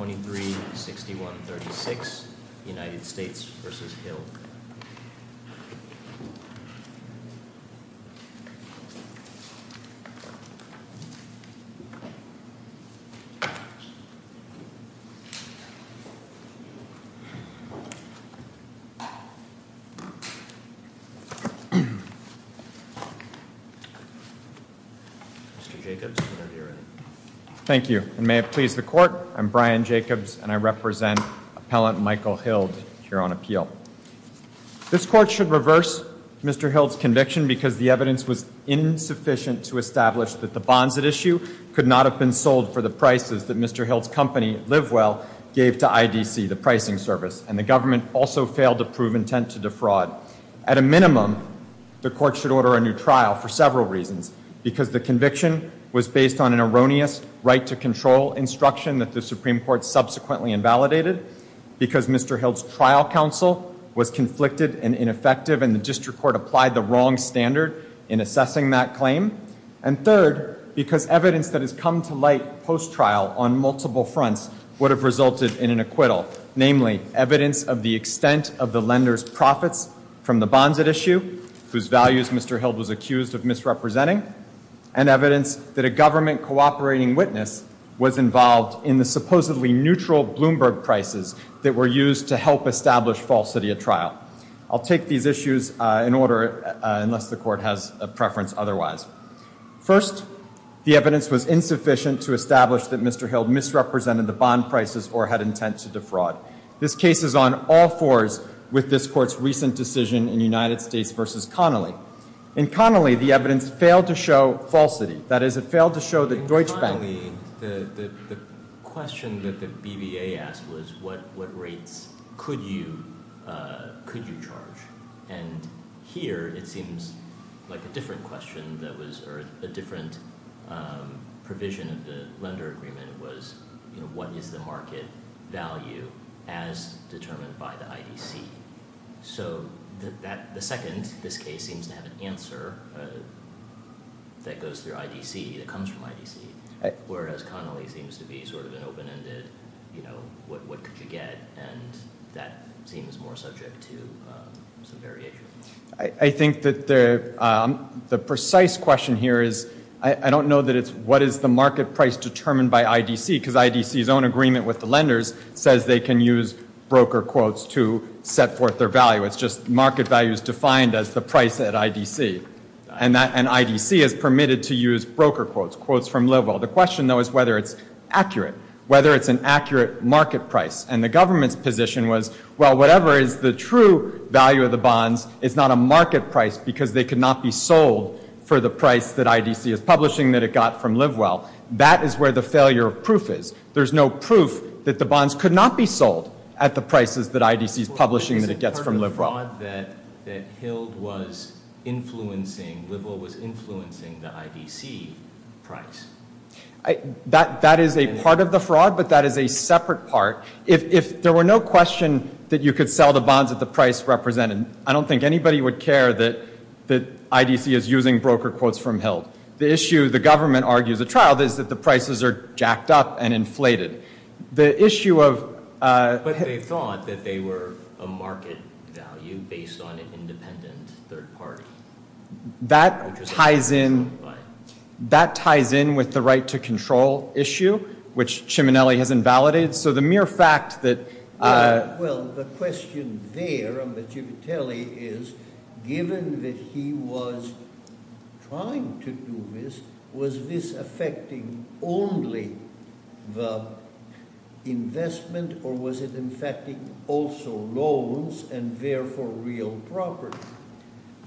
Mr. Jacobs, whenever you're ready. Thank you, and may it please the court, I'm Brian Jacobs and I represent appellant Michael Hild here on appeal. This court should reverse Mr. Hild's conviction because the evidence was insufficient to establish that the bonds at issue could not have been sold for the prices that Mr. Hild's company, Live Well, gave to IDC, the pricing service, and the government also failed to prove intent to defraud. At a minimum, the court should order a new trial for several reasons, because the conviction was based on an erroneous right to control instruction that the Supreme Court subsequently invalidated, because Mr. Hild's trial counsel was conflicted and ineffective and the district court applied the wrong standard in assessing that claim, and third, because evidence that has come to light post-trial on multiple fronts would have resulted in an acquittal, namely evidence of the extent of the lenders profits from the bonds at issue, whose values Mr. Hild was accused of misrepresenting, and evidence that a government cooperating witness was involved in the supposedly neutral Bloomberg prices that were used to help establish falsity at trial. I'll take these issues in order, unless the court has a preference otherwise. First, the evidence was insufficient to establish that Mr. Hild misrepresented the bond prices or had intent to defraud. This case is on all fours with this court's recent decision in United States v. Connolly. In Connolly, the evidence failed to show falsity. That is, it failed to show that Deutsche Bank... In Connolly, the question that the BBA asked was, what rates could you, could you charge? And here, it seems like a different question that was, or a different provision of the lender agreement was, what is the market value as determined by the IDC? So the second, this case, seems to have an answer that goes through IDC, that comes from IDC, whereas Connolly seems to be sort of an open-ended, you know, what could you get? And that seems more subject to some variation. I think that the precise question here is, I don't know that it's what is the market price determined by IDC, because IDC's own agreement with the lenders says they can use broker quotes to set forth their value. It's just market value is defined as the price at IDC. And that, and IDC is permitted to use broker quotes, quotes from Livewell. The question, though, is whether it's accurate, whether it's an accurate market price. And the government's position was, well, whatever is the true value of the bonds is not a market price because they could not be sold for the price that IDC is publishing, that it got from Livewell. That is where the failure of proof is. There's no proof that the bonds could not be sold at the prices that IDC is publishing, that it gets from Livewell. Is it part of the fraud that HILD was influencing, Livewell was influencing the IDC price? That is a part of the fraud, but that is a separate part. If there were no question that you could sell the bonds at the price represented, I don't think anybody would care that IDC is using broker quotes from HILD. The issue, the government argues at trial, is that the prices are jacked up and inflated. The issue of... But they thought that they were a market value based on an independent third party. That ties in, that ties in with the right-to-control issue, which Ciminelli has invalidated. So the mere fact that... Well, the question there under Civitelli is, given that he was trying to do this, was this affecting only the investment or was it infecting also loans and therefore real property?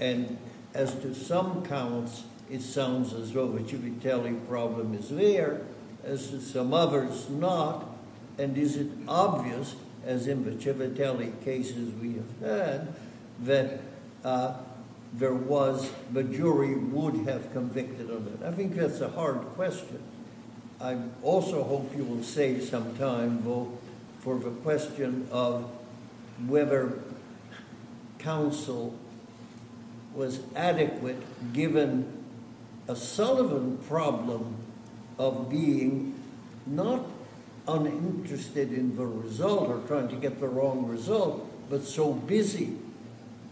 And as to some counts, it sounds as though the Civitelli problem is there. As to some others, not. And is it obvious, as in the Civitelli cases we have had, that there was... The jury would have convicted of it? I think that's a hard question. I also hope you will save some time, though, for the question of whether counsel was adequate given a Sullivan problem of being not uninterested in the result or trying to get the wrong result, but so busy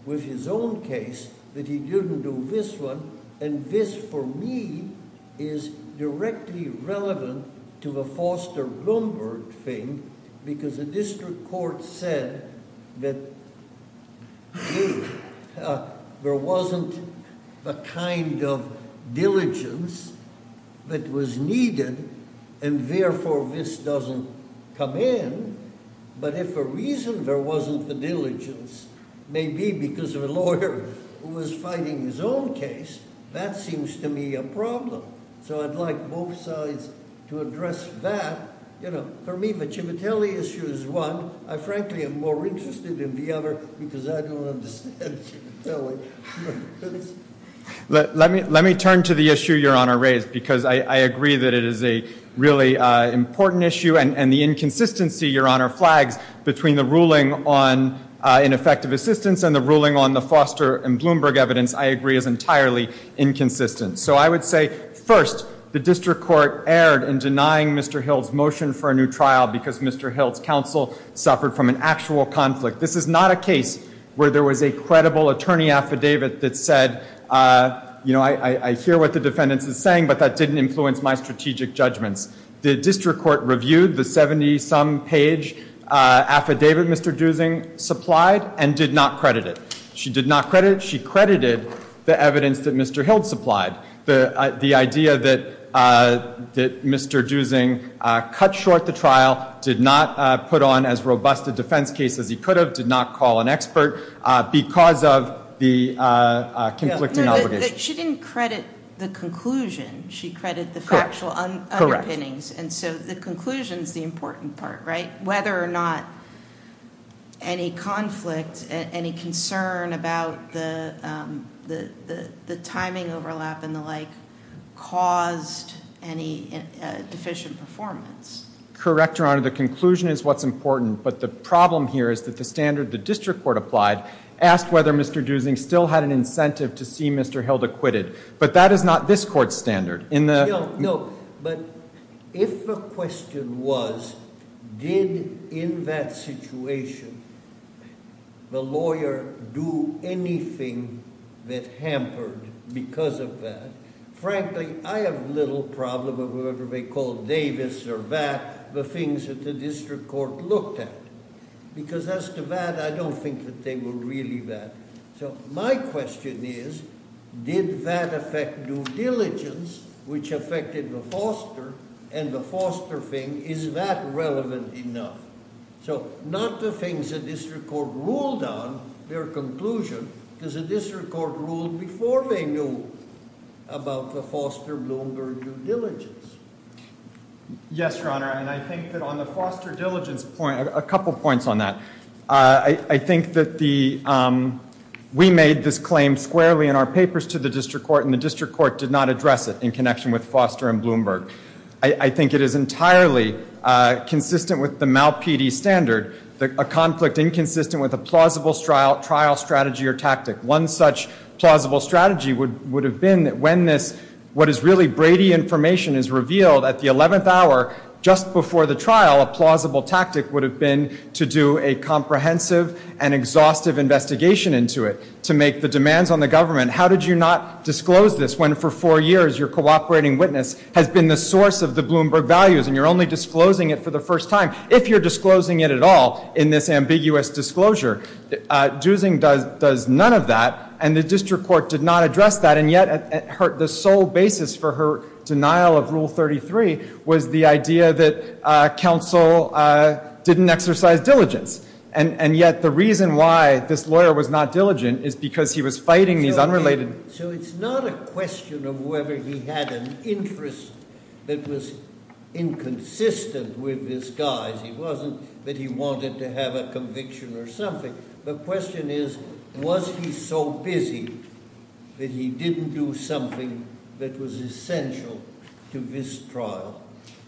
with his own case that he didn't do this one. And this, for me, is directly relevant to the Foster-Bloomberg thing because the district court said that there wasn't the kind of diligence that was needed and therefore this doesn't come in. But if for a reason there wasn't the diligence, maybe because of a lawyer who was fighting his own case, that seems to me a problem. So I'd like both sides to address that. For me, the Civitelli issue is one. I frankly am more interested in the other because I don't understand Civitelli. Let me turn to the issue Your Honor raised because I agree that it is a really important issue and the inconsistency, Your Honor, flags between the ruling on ineffective assistance and the ruling on the Foster and Bloomberg evidence, I agree, is entirely inconsistent. So I would say, first, the district court erred in denying Mr. Hill's motion for a new trial because Mr. Hill's counsel suffered from an actual conflict. This is not a case where there was a credible attorney affidavit that said, you know, I hear what the defendants is saying but that didn't influence my strategic judgments. The district court reviewed the 70-some page affidavit Mr. Dusing supplied and did not credit it. She did not credit it. She credited the evidence that Mr. Hill supplied. The idea that Mr. Dusing cut short the trial, did not put on as robust a defense case as he could have, did not call an expert because of the conflicting obligations. She didn't credit the conclusion. She credited the factual underpinnings and so the conclusion is the important part, right? Whether or not any conflict, any concern about the timing overlap and the like caused any deficient performance. Correct, Your Honor. The conclusion is what's important but the problem here is that the standard the district court applied asked whether Mr. Dusing still had an incentive to see Mr. Hill acquitted. But that is not this court's standard. No, but if the question was, did in that situation the lawyer do anything that hampered because of that, frankly, I have little problem with whatever they call Davis or that, the things that the district court looked at. Because as to that, I don't think that they were really that. So my question is, did that affect due diligence which affected the foster and the foster thing, is that relevant enough? So not the things the district court ruled on, their conclusion, because the district court ruled before they knew about the foster and Bloomberg due diligence. Yes, Your Honor, and I think that on the foster diligence point, a couple points on that. I think that we made this claim squarely in our papers to the district court and the district court did not address it in connection with foster and Bloomberg. I think it is entirely consistent with the MALPD standard, a conflict inconsistent with a plausible trial strategy or tactic. One such plausible strategy would have been that when this, what is really Brady information is revealed at the 11th hour, just before the trial, a plausible tactic would have been to do a comprehensive and exhaustive investigation into it, to make the demands on the government. How did you not disclose this when for four years your cooperating witness has been the source of the Bloomberg values and you're only disclosing it for the first time, if you're disclosing it at all in this ambiguous disclosure. Dusing does none of that and the district court did not address that and yet the sole basis for her denial of rule 33 was the idea that counsel didn't exercise diligence and yet the reason why this lawyer was not diligent is because he was fighting these unrelated... So it's not a question of whether he had an interest that was inconsistent with his guise. It wasn't that he wanted to have a conviction or something. The question is was he so busy that he didn't do something that was essential to this trial?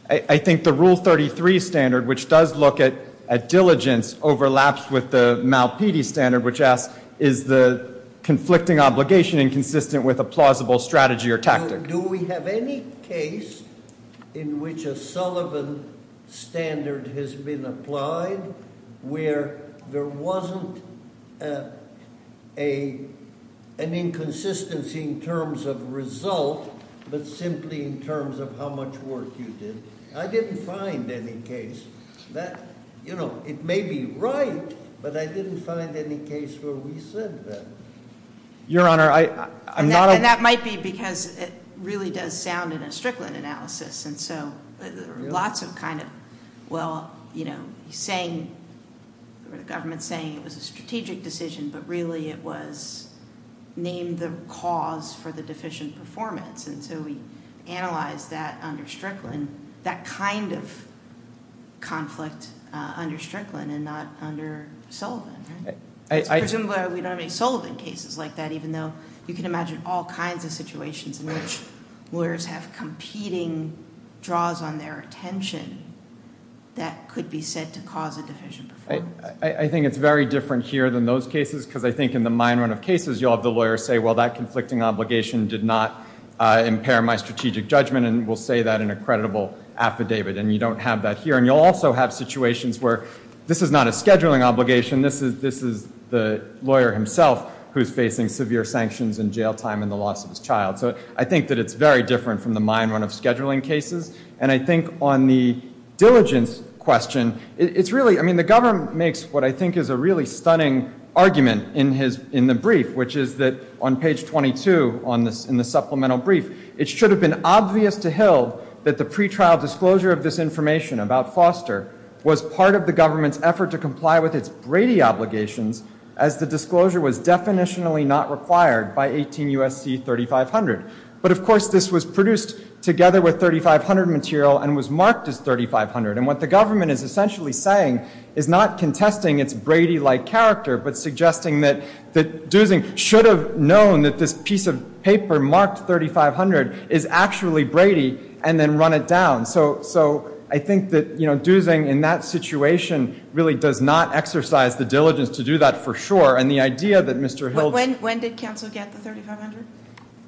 I think the rule 33 standard, which does look at diligence, overlaps with the Malpede standard, which asks is the conflicting obligation inconsistent with a plausible strategy or tactic? Do we have any case in which a Sullivan standard has been applied where there wasn't an inconsistency in terms of result but simply in terms of how much work you did? I didn't find any case that you know it may be right but I didn't find any case where we said that. Your Honor, I'm not... And that might be because it really does sound in a Strickland analysis and so lots of kind of well you know he's saying or the government's saying it was a strategic decision but really it was named the cause for the deficient performance and so we analyzed that under Strickland, that kind of conflict under Strickland and not under Sullivan. Presumably we don't have any Sullivan cases like that even though you can imagine all kinds of situations in which lawyers have competing draws on their attention that could be said to cause a deficient performance. I think it's very different here than those cases because I think in the mine run of cases you'll have the lawyer say well that conflicting obligation did not impair my strategic judgment and we'll say that in a credible affidavit and you don't have that here and you'll also have situations where this is not a scheduling obligation, this is the lawyer himself who's facing severe sanctions and jail time and the loss of his child. So I think that it's very different from the mine run of scheduling cases and I think on the diligence question it's really I mean the government makes what I think is a really stunning argument in the brief which is that on page 22 on this in the supplemental brief it should have been obvious to Hill that the pretrial disclosure of this information about Foster was part of the government's effort to comply with its Brady obligations as the disclosure was definitionally not required by 18 U.S.C. 3500. But of course this was produced together with 3500 material and was marked as 3500 and what the government is essentially saying is not contesting its Brady-like character but suggesting that Dusing should have known that this piece of paper marked 3500 is actually Brady and then run it down. So I think that Dusing in that situation really does not exercise the diligence to do that for sure and the idea that Mr. Hill... When did counsel get the 3500?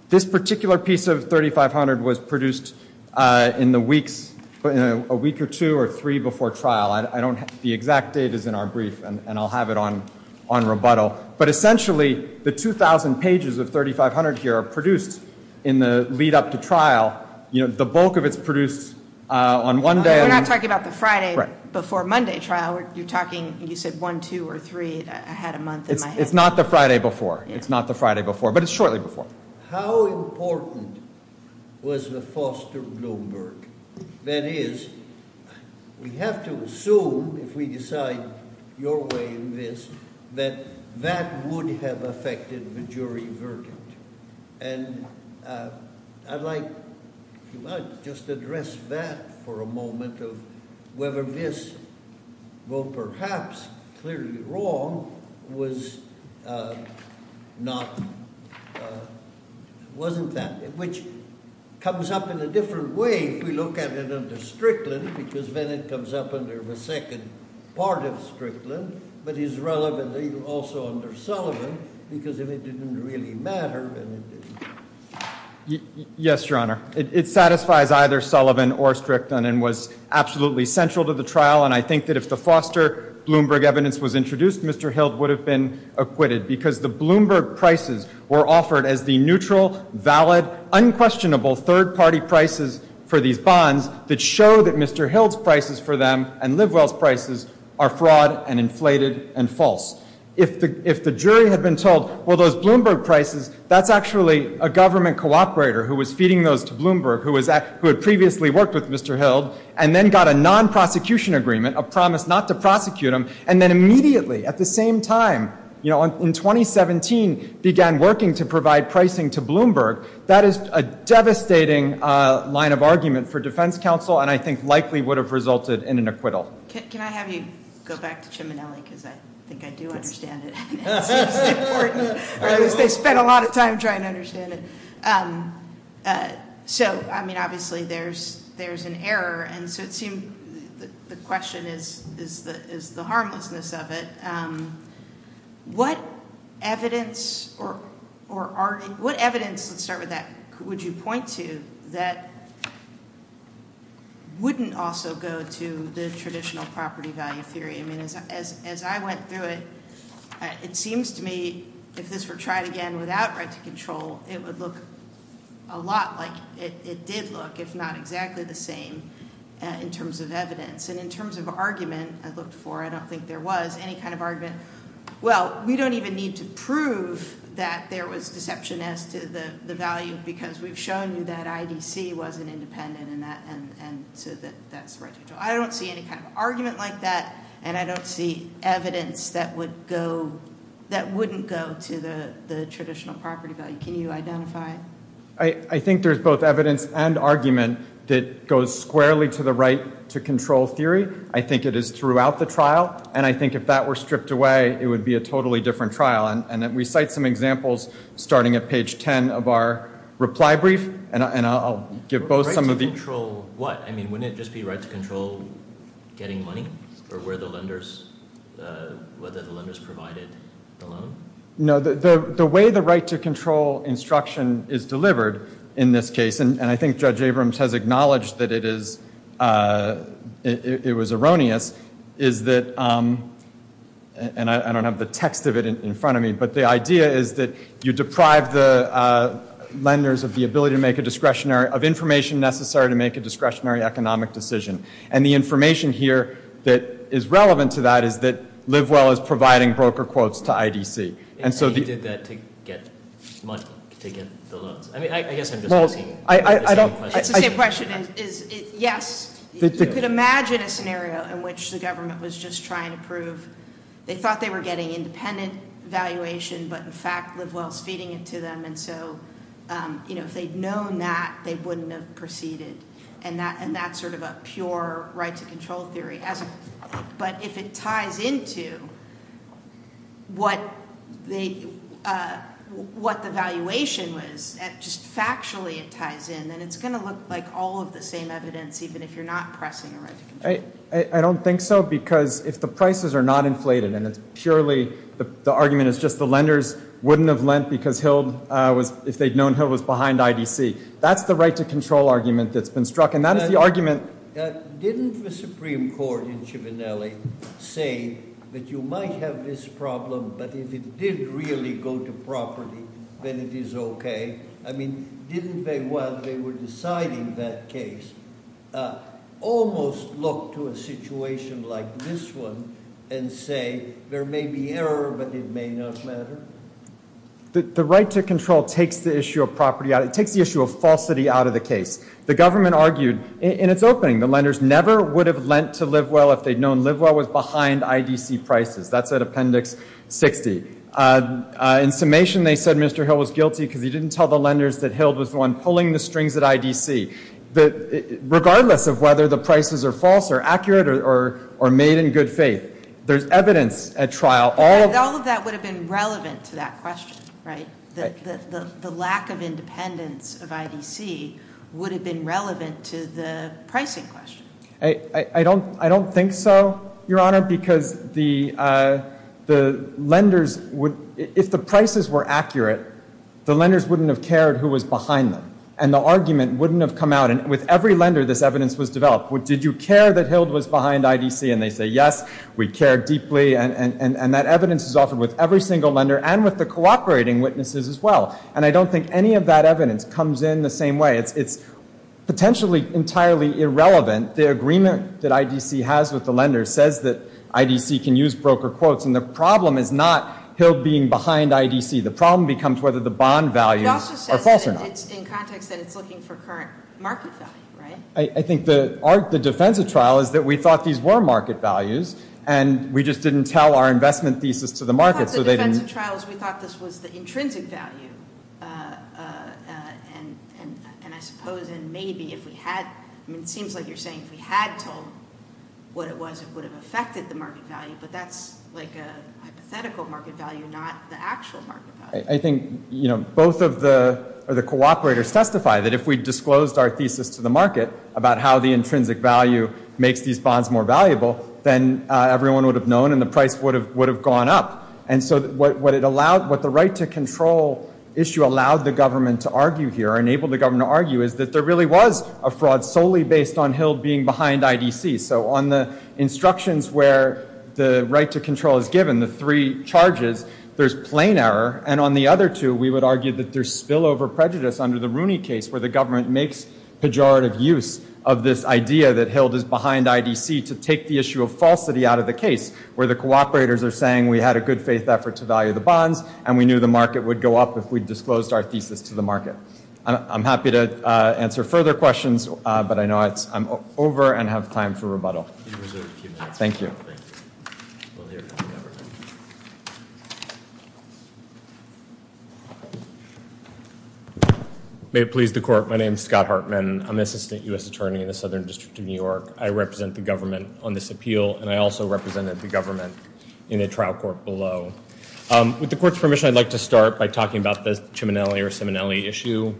This particular piece of 3500 was produced in the weeks but in a week or two or three before trial. I don't the exact date is in our brief and I'll have it on on rebuttal but essentially the 2,000 pages of 3500 here are produced in the lead-up to trial you know the bulk of its produced on one day. We're not talking about the Friday before Monday trial you're talking you said one two or three I had a month. It's not the Friday before it's not the Friday before but it's shortly before. How important was the Foster-Bloomberg? That is we have to assume if we decide your way in this that that would have affected the jury verdict and I'd like to just address that for a moment of whether this well perhaps clearly wrong was not wasn't that which comes up in a different way if we look at it under Strickland because then it comes up under the second part of Strickland but is relevantly also under Sullivan because if it didn't really matter. Yes your it satisfies either Sullivan or Strickland and was absolutely central to the trial and I think that if the Foster-Bloomberg evidence was introduced Mr. Hilt would have been acquitted because the Bloomberg prices were offered as the neutral valid unquestionable third-party prices for these bonds that show that Mr. Hilt's prices for them and Livewell's prices are fraud and inflated and false. If the if the jury had been told well those Bloomberg prices that's actually a government cooperator who was feeding those to Bloomberg who was that who had previously worked with Mr. Hilt and then got a non-prosecution agreement a promise not to prosecute him and then immediately at the same time you know in 2017 began working to provide pricing to Bloomberg that is a devastating line of argument for defense counsel and I think likely would have resulted in an acquittal. Can I have you go back to because I think I do understand it they spent a lot of time trying to understand it so I mean obviously there's there's an error and so it seemed the question is is the is the harmlessness of it what evidence or or are what evidence let's start with that would you point to that wouldn't also go to the traditional property value theory I mean as I went through it it seems to me if this were tried again without right to control it would look a lot like it did look if not exactly the same in terms of evidence and in terms of argument I've looked for I don't think there was any kind of argument well we don't even need to prove that there was deception as to the value because we've shown you that IDC wasn't independent in that and I don't see any kind of argument like that and I don't see evidence that would go that wouldn't go to the traditional property value can you identify I I think there's both evidence and argument that goes squarely to the right to control theory I think it is throughout the trial and I think if that were stripped away it would be a totally different trial and that we cite some examples starting at page 10 of our reply brief and I'll give both some of the control what I mean when it just be right to control getting money or where the lenders whether the lenders provided the loan no the the way the right to control instruction is delivered in this case and I think judge Abrams has acknowledged that it is it was erroneous is that and I don't have the text of it in front of me but the idea is that you deprive the lenders of the ability to make a discretionary of information necessary to make a discretionary economic decision and the information here that is relevant to that is that live well as providing broker quotes to IDC and so that to get much to get the loans I mean I guess I'm just asking I don't I question is yes you could imagine a scenario in which the government was just trying to prove they thought they were getting independent valuation but in fact live wells feeding it to them and so you know if they'd known that they wouldn't have proceeded and that and that's sort of a pure right to control theory as but if it ties into what they what the valuation was just factually it ties in and it's going to look like all of the same evidence even if you're not pressing right I don't think so because if the prices are not inflated and it's purely the argument is just the lenders wouldn't have lent because Hill was if they'd known Hill was behind IDC that's the right to control argument that's struck and that is the argument didn't the Supreme Court in Chivinelli say that you might have this problem but if it did really go to property then it is okay I mean didn't they while they were deciding that case almost look to a situation like this one and say there may be error but it may not matter the right to control takes the issue of property out it takes the issue of out of the case the government argued in its opening the lenders never would have lent to live well if they'd known live well was behind IDC prices that's at appendix 60 in summation they said mr. Hill was guilty because he didn't tell the lenders that Hild was the one pulling the strings at IDC that regardless of whether the prices are false or accurate or or made in good faith there's evidence at trial all of that would have been relevant to that I don't I don't think so your honor because the the lenders would if the prices were accurate the lenders wouldn't have cared who was behind them and the argument wouldn't have come out and with every lender this evidence was developed what did you care that Hild was behind IDC and they say yes we care deeply and and and that evidence is offered with every single lender and with the cooperating witnesses as well and I don't think any of that evidence comes in the same way it's it's potentially entirely irrelevant the agreement that IDC has with the lenders says that IDC can use broker quotes and the problem is not Hild being behind IDC the problem becomes whether the bond values are false or not. I think the art the defense of trial is that we thought these were market values and we just didn't tell our investment thesis to the market so they didn't we thought this was the intrinsic value and and I suppose and maybe if we had I mean it seems like you're saying if we had told what it was it would have affected the market value but that's like a hypothetical market value not the actual market value. I think you know both of the or the cooperators testify that if we disclosed our thesis to the market about how the intrinsic value makes these bonds more valuable then everyone would have known and the price would have would have gone up and so what it allowed what the right to control issue allowed the government to argue here enabled the government argue is that there really was a fraud solely based on Hild being behind IDC so on the instructions where the right to control is given the three charges there's plain error and on the other two we would argue that there's spillover prejudice under the Rooney case where the government makes pejorative use of this idea that Hild is behind IDC to take the issue of falsity out of the case where the cooperators are saying we had a good faith effort to value the bonds and we knew the market would go up if we disclosed our thesis to the market I'm happy to answer further questions but I know it's I'm over and have time for rebuttal thank you may it please the court my name is Scott Hartman I'm assistant US attorney in the Southern District of New York I represent the government on this appeal and I also represented the government in a trial court below with the court's permission I'd like to start by talking about this Chiminelli or Simonelli issue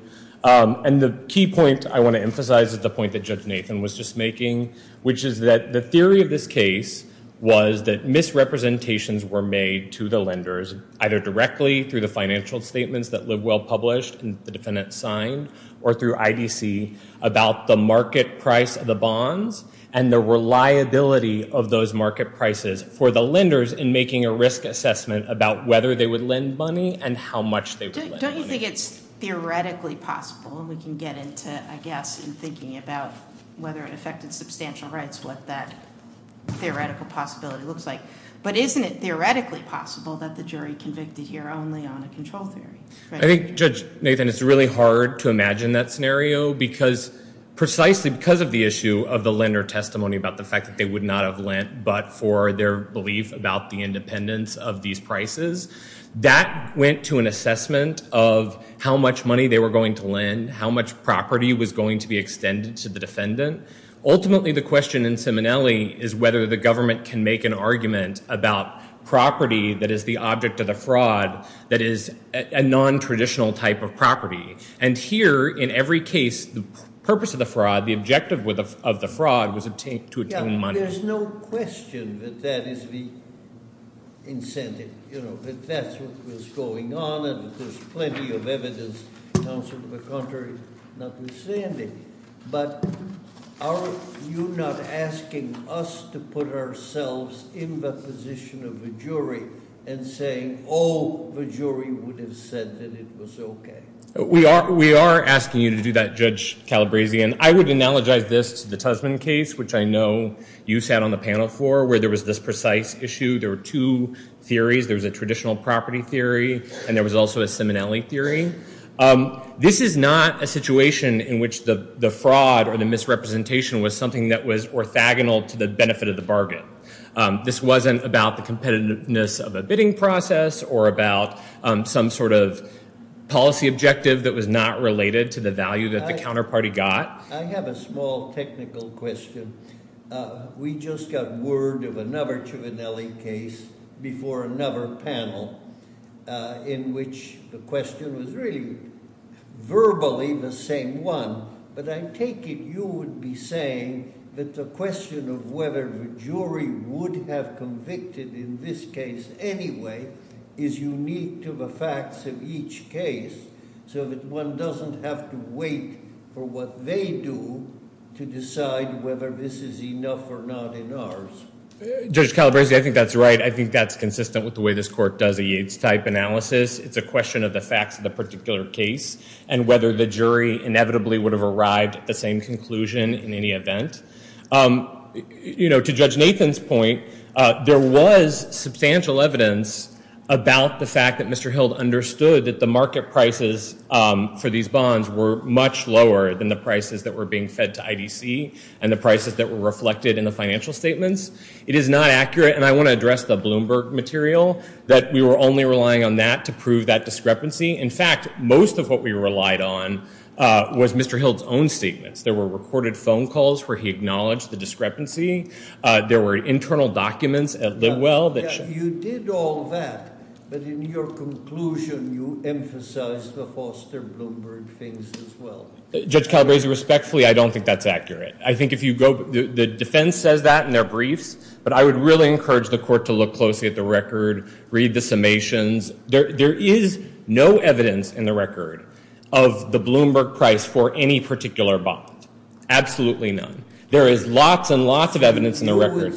and the key point I want to emphasize is the point that judge Nathan was just making which is that the theory of this case was that misrepresentations were made to the lenders either directly through the financial statements that live well published and the defendant signed or through IDC about the market price of the bonds and the reliability of those market prices for the lenders in making a risk assessment about whether they would lend money and how much they think it's theoretically possible we can get into I guess in thinking about whether it affected substantial rights what that theoretical possibility looks like but isn't it theoretically possible that the jury convicted here only on a control theory I think judge Nathan it's really hard to imagine that scenario because precisely because of the issue of the lender testimony about the fact that they would not have lent but for their belief about the independence of these prices that went to an assessment of how much money they were going to land how much property was going to be extended to the defendant ultimately the question in Simonelli is whether the government can make an argument about property that is the object of the fraud that is a non-traditional type of property and here in every case the purpose of the fraud the objective with a of the fraud was obtained to attend money there's no question that that is the incentive you know that that's what was going on and there's plenty of evidence the contrary notwithstanding but are you not asking us to put ourselves in the position of the jury and saying all the jury would we are we are asking you to do that judge Calabrese and I would analogize this to the Tusman case which I know you sat on the panel for where there was this precise issue there were two theories there was a traditional property theory and there was also a simonelli theory this is not a situation in which the the fraud or the misrepresentation was something that was orthogonal to the benefit of the bargain this wasn't about the competitiveness of the bidding process or about some sort of policy objective that was not related to the value that the counterparty got I have a small technical question we just got word of another to an LE case before another panel in which the question was really verbally the same one but I take it you would be saying that the question of whether the jury would have convicted in this case anyway is unique to the facts of each case so that one doesn't have to wait for what they do to decide whether this is enough or not in ours judge Calabrese I think that's right I think that's consistent with the way this court does a yates type analysis it's a question of the facts of the particular case and whether the jury inevitably would have arrived at the same conclusion in any event you know to judge Nathan's point there was substantial evidence about the fact that mr. Hilde understood that the market prices for these bonds were much lower than the prices that were being fed to IDC and the prices that were reflected in the financial statements it is not accurate and I want to address the Bloomberg material that we were only relying on that to prove that discrepancy in fact most of what we relied on was mr. Hilde's own statements there were recorded phone calls where he acknowledged the discrepancy there were internal documents at the well that you did all that but in your conclusion you emphasize the Foster Bloomberg things as well judge Calabrese respectfully I don't think that's accurate I think if you go the defense says that in their briefs but I would really encourage the court to look closely at the record read the summations there is no evidence in the record of the Bloomberg price for any particular bond absolutely none there is lots and lots of evidence in the record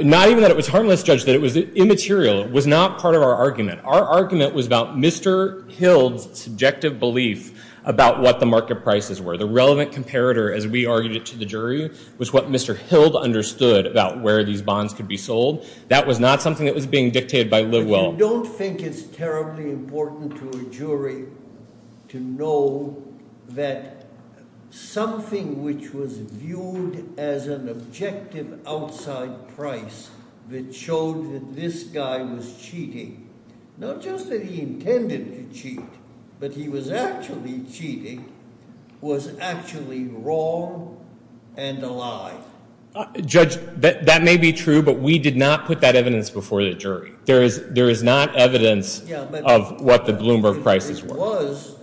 not even that it was harmless judge that it was immaterial it was not part of our argument our argument was about mr. Hilde's subjective belief about what the market prices were the relevant comparator as we argued it to the jury was what mr. Hilde understood about where these bonds could be sold that was not something that was being dictated by live well don't think it's terribly important to a jury to know that something which was viewed as an objective outside price that showed that this guy was cheating not just that he intended to cheat but he was actually cheating was actually wrong and alive judge that that may be true but we did not put that evidence before the jury there is there is not evidence of what the Bloomberg prices was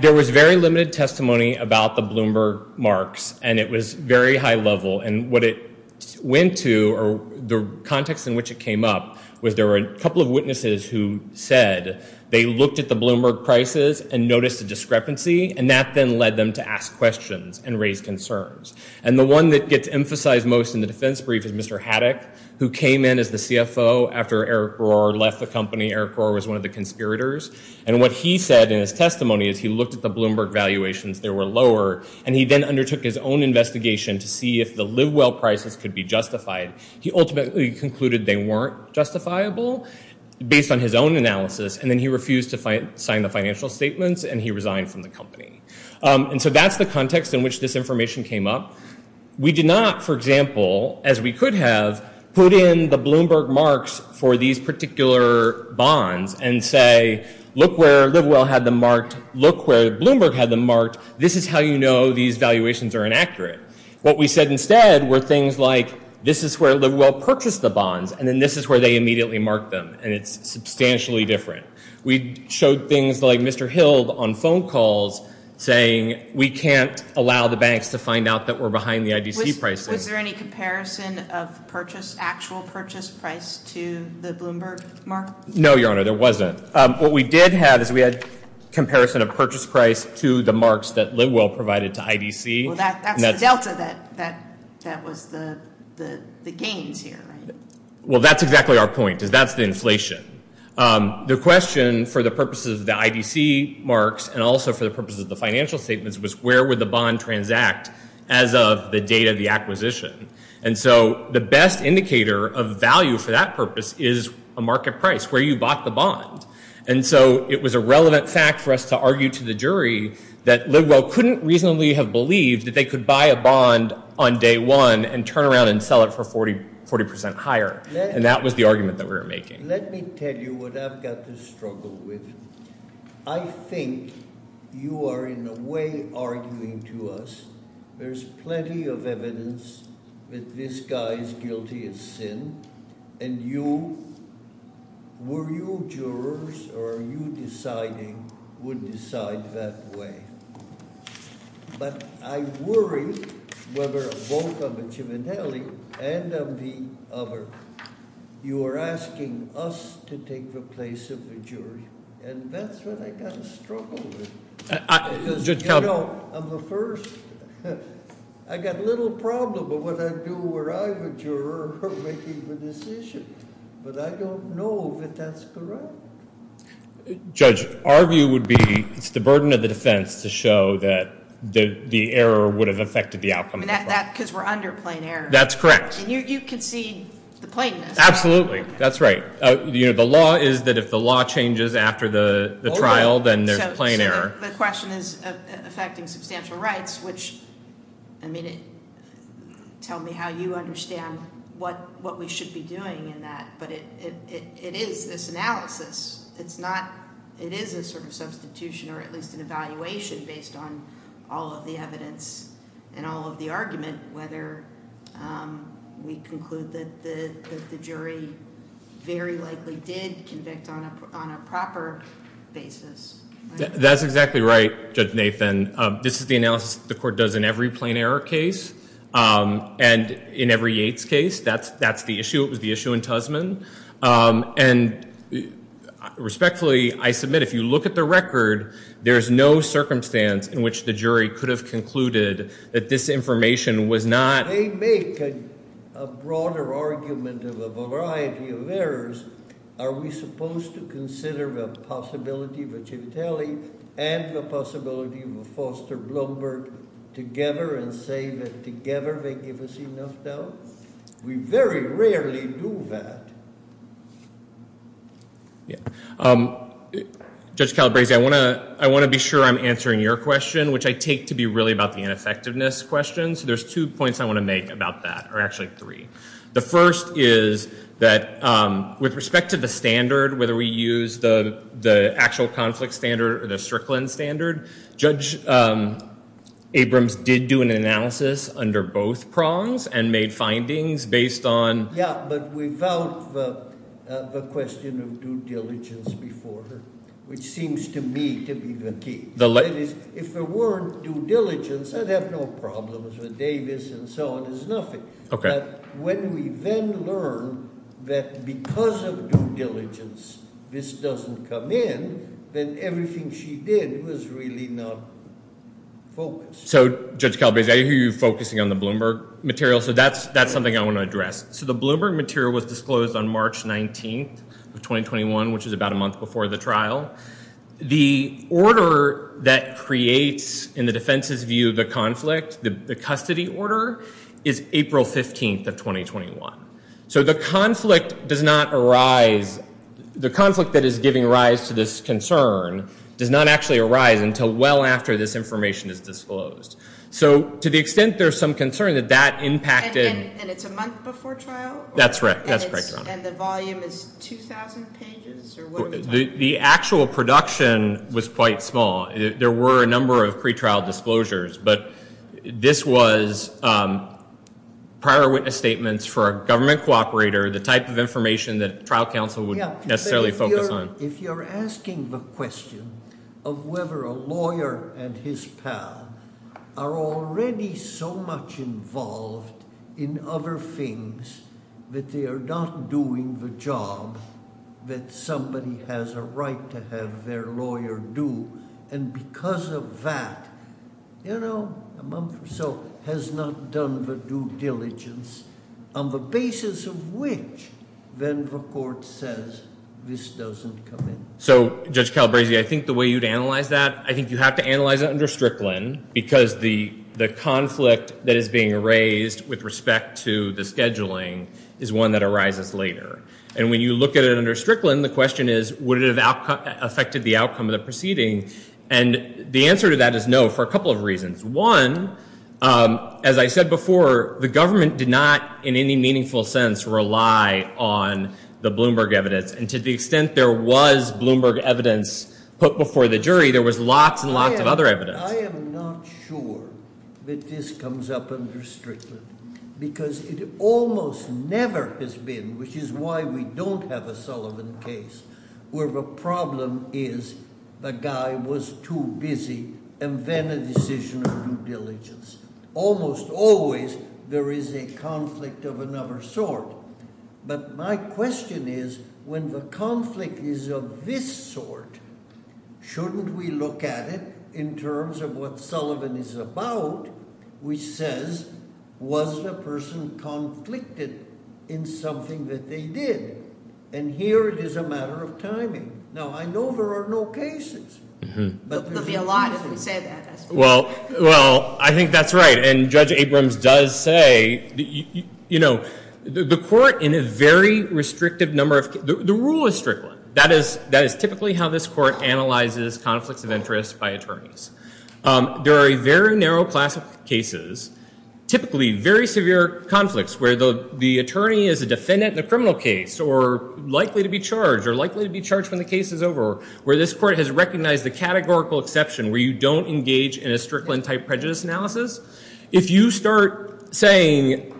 there was very limited testimony about the Bloomberg marks and it was very high level and what it went to or the context in which it came up was there were a couple of witnesses who said they looked at the Bloomberg prices and noticed a discrepancy and that then led them to ask questions and raise concerns and the one that gets emphasized most in the defense brief is mr. Haddock who came in as the CFO after Eric Rohr left the company Eric Rohr was one of the conspirators and what he said in his testimony is he looked at the Bloomberg valuations there were lower and he then undertook his own investigation to see if the live well prices could be he ultimately concluded they weren't justifiable based on his own analysis and then he refused to sign the financial statements and he resigned from the company and so that's the context in which this information came up we did not for example as we could have put in the Bloomberg marks for these particular bonds and say look where live well had the marked look where Bloomberg had the marked this is how you know these valuations are accurate what we said instead were things like this is where live well purchased the bonds and then this is where they immediately marked them and it's substantially different we showed things like mr. Hill on phone calls saying we can't allow the banks to find out that we're behind the IDC prices there any comparison of purchase actual purchase price to the Bloomberg mark no your honor there wasn't what we did have is we had comparison of purchase price to the marks that live well provided to IDC well that's exactly our point is that's the inflation the question for the purposes of the IDC marks and also for the purposes of the financial statements was where would the bond transact as of the date of the acquisition and so the best indicator of value for that purpose is a market price where you bought the bond and so it was a relevant fact for us to argue to the jury that live well couldn't reasonably have believed that they could buy a bond on day one and turn around and sell it for 40 40 percent higher and that was the argument that we were making let me tell you what I've got to struggle with I think you are in a way arguing to us there's plenty of evidence that this guy's guilty of sin and you were you or you deciding would decide that way but I worry whether a vote of a chiminelli and of the other you are asking us to take the place of the jury and that's what I got a struggle I'm the first I got a little problem but what I judge our view would be it's the burden of the defense to show that the the error would have affected the outcome that because we're under plain air that's correct you can see the plainness absolutely that's right you know the law is that if the law changes after the trial then there's plain air the question is affecting substantial rights which I mean it tell me how you understand what what we should be doing in that but it is this analysis it's not it is a sort of substitution or at least an evaluation based on all of the evidence and all of the argument whether we conclude that the jury very likely did convict on a proper basis that's exactly right judge Nathan this is the court does in every plain error case and in every Yates case that's that's the issue it was the issue in Tusman and respectfully I submit if you look at the record there's no circumstance in which the jury could have concluded that this information was not a make a broader argument of a variety of errors are we supposed to consider the possibility but you tell me and the possibility of a together and say that together they give us enough though we very rarely do that yeah judge Calabrese I want to I want to be sure I'm answering your question which I take to be really about the ineffectiveness question so there's two points I want to make about that or actually three the first is that with respect to the standard whether we use the the actual conflict standard or the standard judge Abrams did do an analysis under both prongs and made findings based on yeah but without the question of due diligence before her which seems to me to be the key the ladies if there weren't due diligence I'd have no problems with Davis and so it is nothing okay when we then learn that because of diligence this doesn't come in then everything she did was really not so judge Calabrese I hear you focusing on the Bloomberg material so that's that's something I want to address so the Bloomberg material was disclosed on March 19th of 2021 which is about a month before the trial the order that creates in the defense's view the conflict the custody order is April 15th of 2021 so the conflict does not arise the conflict that is giving rise to this concern does not actually arise until well after this information is disclosed so to the extent there's some concern that that impacted that's right the actual production was quite small there were a number of pretrial disclosures but this was prior witness statements for a government cooperator the type of information that trial counsel would necessarily focus on if you're asking the question of whether a lawyer and his path are already so much involved in other things that they are not doing the job that somebody has a right to have their lawyer do and because of that you know a month or so has not done the due diligence on the basis of which then the court says this doesn't come in so judge Calabrese I think the way you'd analyze that I think you have to analyze it under Strickland because the the conflict that is being raised with respect to the scheduling is one that arises later and when you look at it the question is would it have affected the outcome of the proceeding and the answer to that is no for a couple of reasons one as I said before the government did not in any meaningful sense rely on the Bloomberg evidence and to the extent there was Bloomberg evidence put before the jury there was lots and lots of other evidence. I am not sure that this comes up under Strickland because it almost never has been which is why we don't have a Sullivan case where the problem is the guy was too busy and then a decision of due diligence almost always there is a conflict of another sort but my question is when the conflict is of this sort shouldn't we look at it in terms of what Sullivan is about which says was the person conflicted in something that they did and here it is a matter of timing now I know there are no cases. Well well I think that's right and Judge Abrams does say you know the court in a very restrictive number of the rule is that is that is typically how this court analyzes conflicts of interest by attorneys. There are a very narrow class of cases typically very severe conflicts where the attorney is a defendant in a criminal case or likely to be charged or likely to be charged when the case is over where this court has recognized the categorical exception where you don't engage in a Strickland type prejudice analysis. If you start saying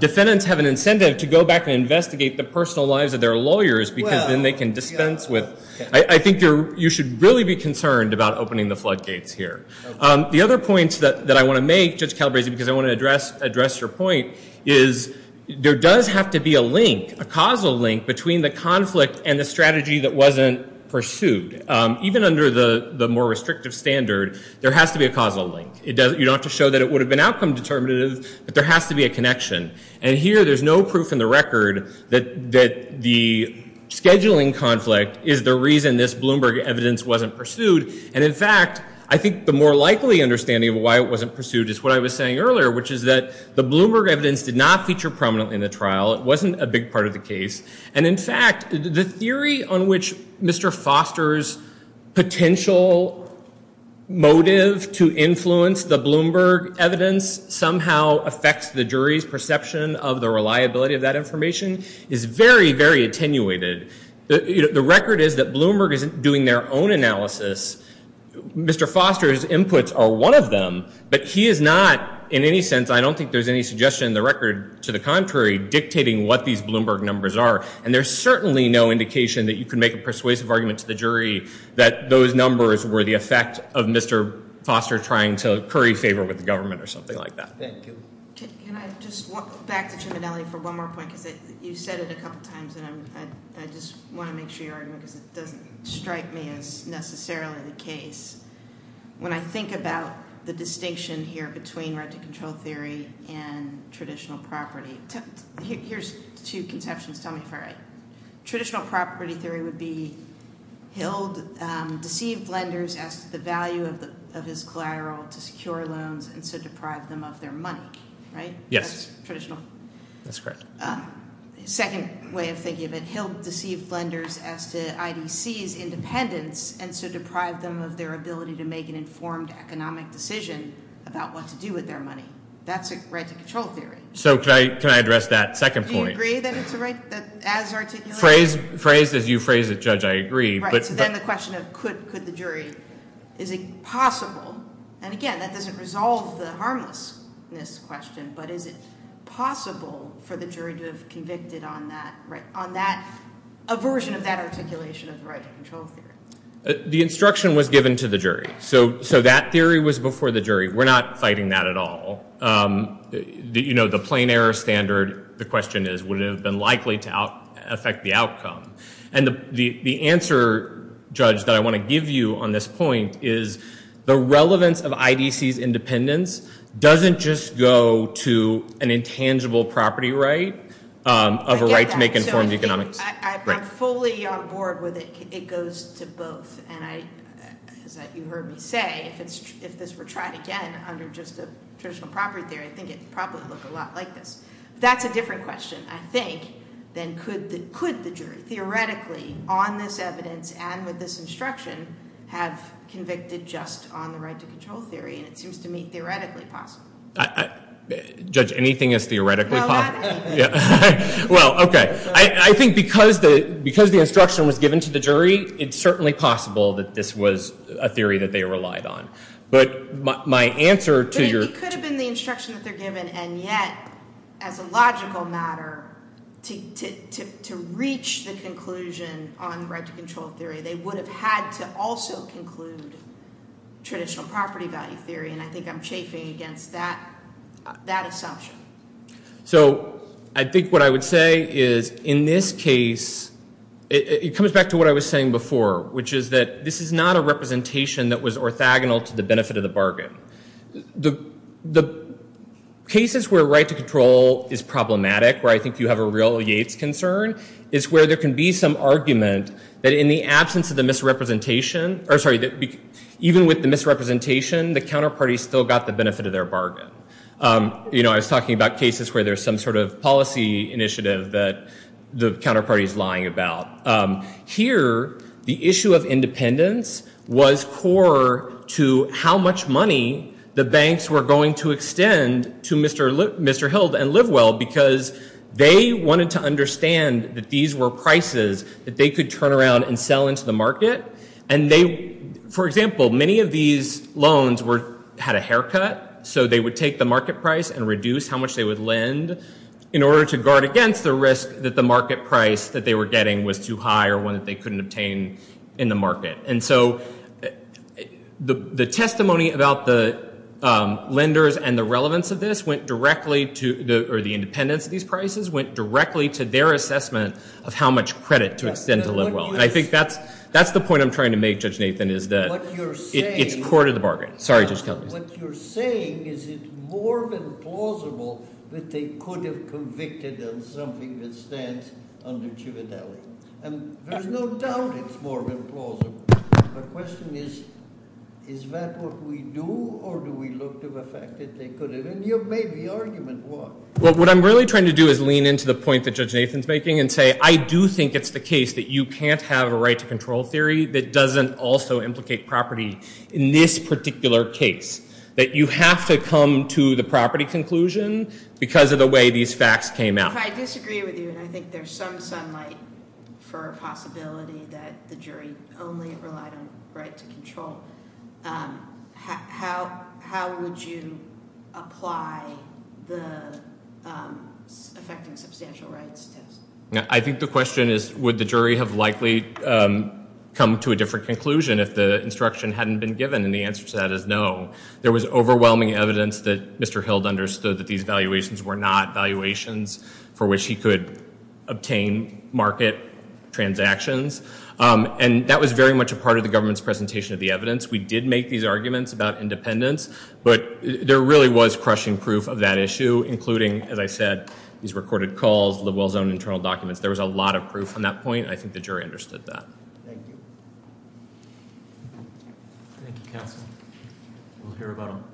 defendants have an incentive to go back and investigate the personal lives of their lawyers because then they can dispense with I think you should really be concerned about opening the floodgates here. The other points that I want to make Judge Calabresi because I want to address address your point is there does have to be a link a causal link between the conflict and the strategy that wasn't pursued. Even under the more restrictive standard there has to be a causal link. You don't have to show that it would have been outcome determinative but there has to be a connection and here there's no proof in the record that the scheduling conflict is the reason this Bloomberg evidence wasn't pursued. And in fact I think the more likely understanding of why it wasn't pursued is what I was saying earlier which is that the Bloomberg evidence did not feature prominently in the trial. It wasn't a big part of the case. And in fact the theory on which Mr. Foster's potential motive to influence the Bloomberg evidence somehow affects the jury's perception of the reliability of that information is very very attenuated. The record is that Bloomberg isn't doing their own analysis. Mr. Foster's inputs are one of them but he is not in any sense I don't think there's any suggestion in the record to the contrary dictating what these Bloomberg numbers are. And there's certainly no indication that you can make a persuasive argument to the jury that those numbers were the effect of Mr. Foster trying to curry favor with the government or something like that. Thank you. Can I just walk back to Triminelli for one more point because you said it a couple of times and I just want to make sure your argument doesn't strike me as necessarily the case. When I think about the distinction here between right to control theory and traditional property, here's two conceptions. Tell me if I'm right. Traditional property theory would be HILD deceived lenders as to the value of his collateral to secure loans and so deprive them of their money, right? Yes. Traditional. That's correct. Second way of thinking of it, HILD deceived lenders as to IDC's independence and so deprive them of their ability to make an informed economic decision about what to do with their money. That's a right to control theory. So can I address that second point? Do you agree that it's a right as articulated? Phrased as you phrase it, Judge, I agree. Right. So then the question of could the jury, is it possible, and again, that doesn't resolve the harmlessness question, but is it possible for the jury to have convicted on that, a version of that articulation of the right to control theory? The instruction was given to the jury. So that theory was before the jury. We're not fighting that at all. You know, the plain error standard, the question is, would it have been likely to affect the outcome? And the answer, Judge, that I want to give you on this point is the relevance of IDC's independence doesn't just go to an intangible property right of a right to make informed economics. I get that. So I'm fully on board with it. It goes to both. And as you heard me say, if this were tried again under just a traditional property theory, I think it would probably look a lot like this. That's a different question, I think, than could the jury theoretically, on this evidence and with this instruction, have convicted just on the right to control theory? And it seems to me theoretically possible. Judge, anything is theoretically possible? Well, OK. I think because the instruction was given to the jury, it's certainly possible that this was a theory that they relied on. But my answer to your. It could have been the instruction that they're given. And yet, as a logical matter, to reach the conclusion on the right to control theory, they would have had to also conclude traditional property value theory. And I think I'm chafing against that assumption. So I think what I would say is in this case, it comes back to what I was saying before, which is that this is not a representation that was orthogonal to the benefit of the bargain. The cases where right to control is problematic, where I think you have a real Yates concern, is where there can be some argument that in the absence of the misrepresentation, or sorry, that even with the misrepresentation, the counterparty still got the benefit of their bargain. You know, I was talking about cases where there's some sort of policy initiative that the counterparty is lying about. Here, the issue of independence was core to how much money the banks were going to extend to Mr. Hilde and Livewell because they wanted to understand that these were prices that they could turn around and sell into the market. And they, for example, many of these loans had a haircut, so they would take the market price and reduce how much they would lend in order to guard against the risk that the market price that they were getting was too high or one that they couldn't obtain in the market. And so the testimony about the lenders and the relevance of this went directly to, or the independence of these prices, went directly to their assessment of how much credit to extend to Livewell. And I think that's the point I'm trying to make, Judge Nathan, is that it's core to the bargain. Sorry, Judge Kelley. What you're saying, is it more than plausible that they could have convicted on something that stands under chivadelli? And there's no doubt it's more than plausible. My question is, is that what we do or do we look to the fact that they could have? And you've made the argument, why? Well, what I'm really trying to do is lean into the point that Judge Nathan's making and say, I do think it's the case that you can't have a right to control theory that doesn't also implicate property in this particular case, that you have to come to the property conclusion because of the way these facts came out. But I disagree with you, and I think there's some sunlight for a possibility that the jury only relied on right to control. How would you apply the affecting substantial rights test? I think the question is, would the jury have likely come to a different conclusion if the instruction hadn't been given? And the answer to that is no. There was overwhelming evidence that Mr. Hilde understood that these valuations were not valuations for which he could obtain market transactions. And that was very much a part of the government's presentation of the evidence. We did make these arguments about independence, but there really was crushing proof of that issue, including, as I said, these recorded calls, Livewell's own internal documents. There was a lot of proof on that point. I think the jury understood that. We'll hear about them.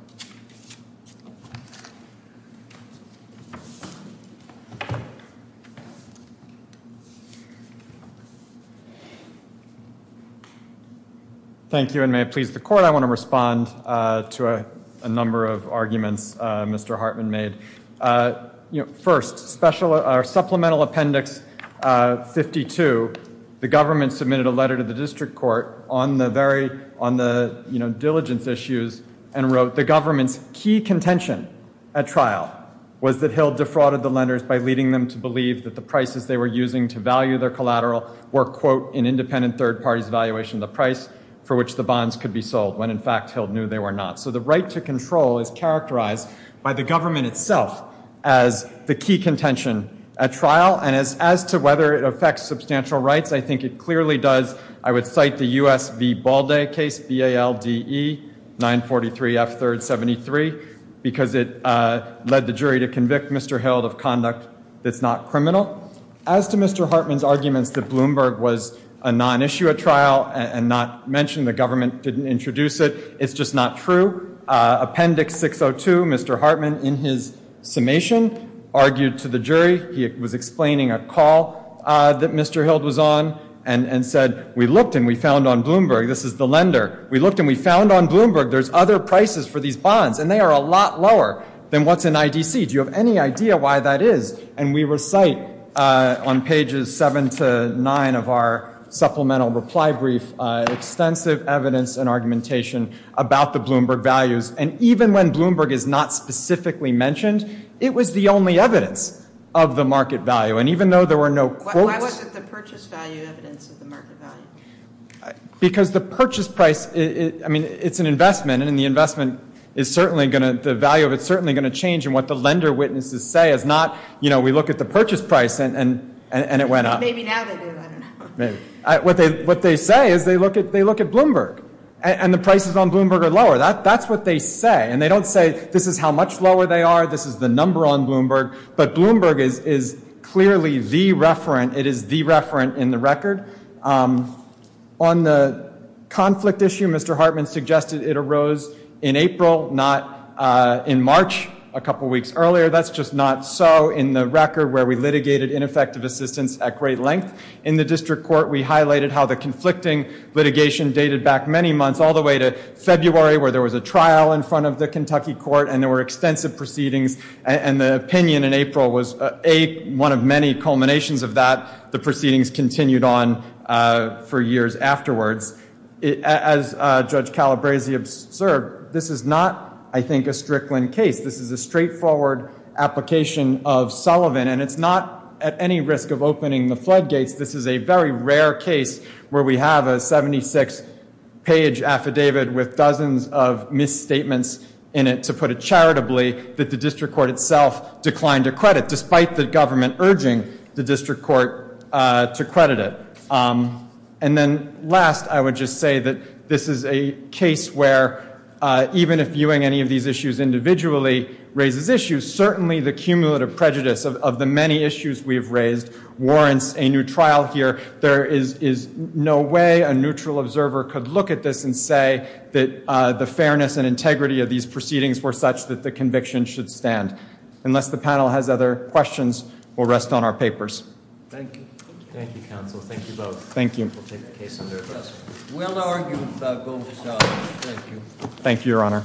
Thank you, and may it please the court, I want to respond to a number of arguments Mr. Hartman made. First, supplemental appendix 52, the government submitted a letter to the district court on the diligence issues and wrote, the government's key contention at trial was that Hilde defrauded the lenders by leading them to believe that the prices they were using to value their collateral were, quote, an independent third party's valuation of the price for which the bonds could be sold, when in fact Hilde knew they were not. So the right to control is characterized by the government itself as the key contention at trial. And as to whether it affects substantial rights, I think it clearly does. I would cite the U.S. v. Balde case, B-A-L-D-E-943-F-3-73, because it led the jury to convict Mr. Hilde of conduct that's not criminal. As to Mr. Hartman's arguments that Bloomberg was a non-issue at trial and not mention the government didn't introduce it, it's just not true. Appendix 602, Mr. Hartman in his summation argued to the jury, he was explaining a call that Mr. Hilde was on and said, we looked and we found on Bloomberg, this is the lender, we looked and we found on Bloomberg there's other prices for these bonds and they are a lot lower than what's in IDC. Do you have any idea why that is? And we recite on pages seven to nine of our supplemental reply brief, extensive evidence and argumentation about the Bloomberg values. And even when Bloomberg is not specifically mentioned, it was the only evidence of the market value. And even though there were no quotes- Why wasn't the purchase value evidence of the market value? Because the purchase price, I mean, it's an investment and the investment is certainly going to, the value of it is certainly going to change and what the lender witnesses say is not, you know, we look at the purchase price and it went up. Maybe now they do, I don't know. What they say is they look at Bloomberg and the prices on Bloomberg are lower. That's what they say. And they don't say this is how much lower they are, this is the number on Bloomberg, but Bloomberg is clearly the referent, it is the referent in the record. On the conflict issue, Mr. Hartman suggested it arose in April, not in March a couple weeks earlier. That's just not so in the record where we litigated ineffective assistance at great length. In the district court, we highlighted how the conflicting litigation dated back many months, all the way to February where there was a trial in front of the Kentucky court and there were extensive proceedings. And the opinion in April was one of many culminations of that. The proceedings continued on for years afterwards. As Judge Calabresi observed, this is not, I think, a Strickland case. This is a straightforward application of Sullivan and it's not at any risk of opening the floodgates. This is a very rare case where we have a 76 page affidavit with dozens of misstatements in it, to put it charitably, that the district court itself declined to credit, despite the government urging the district court to credit it. And then last, I would just say that this is a case where even if viewing any of these issues individually raises issues, certainly the cumulative prejudice of the many issues we've raised warrants a new trial here. There is no way a neutral observer could look at this and say that the fairness and integrity of these proceedings were such that the conviction should stand. Unless the panel has other questions, we'll rest on our papers. Thank you. Thank you, counsel. Thank you both. Thank you. We'll take the case under address. We'll argue without going to trial. Thank you. Thank you, your honor.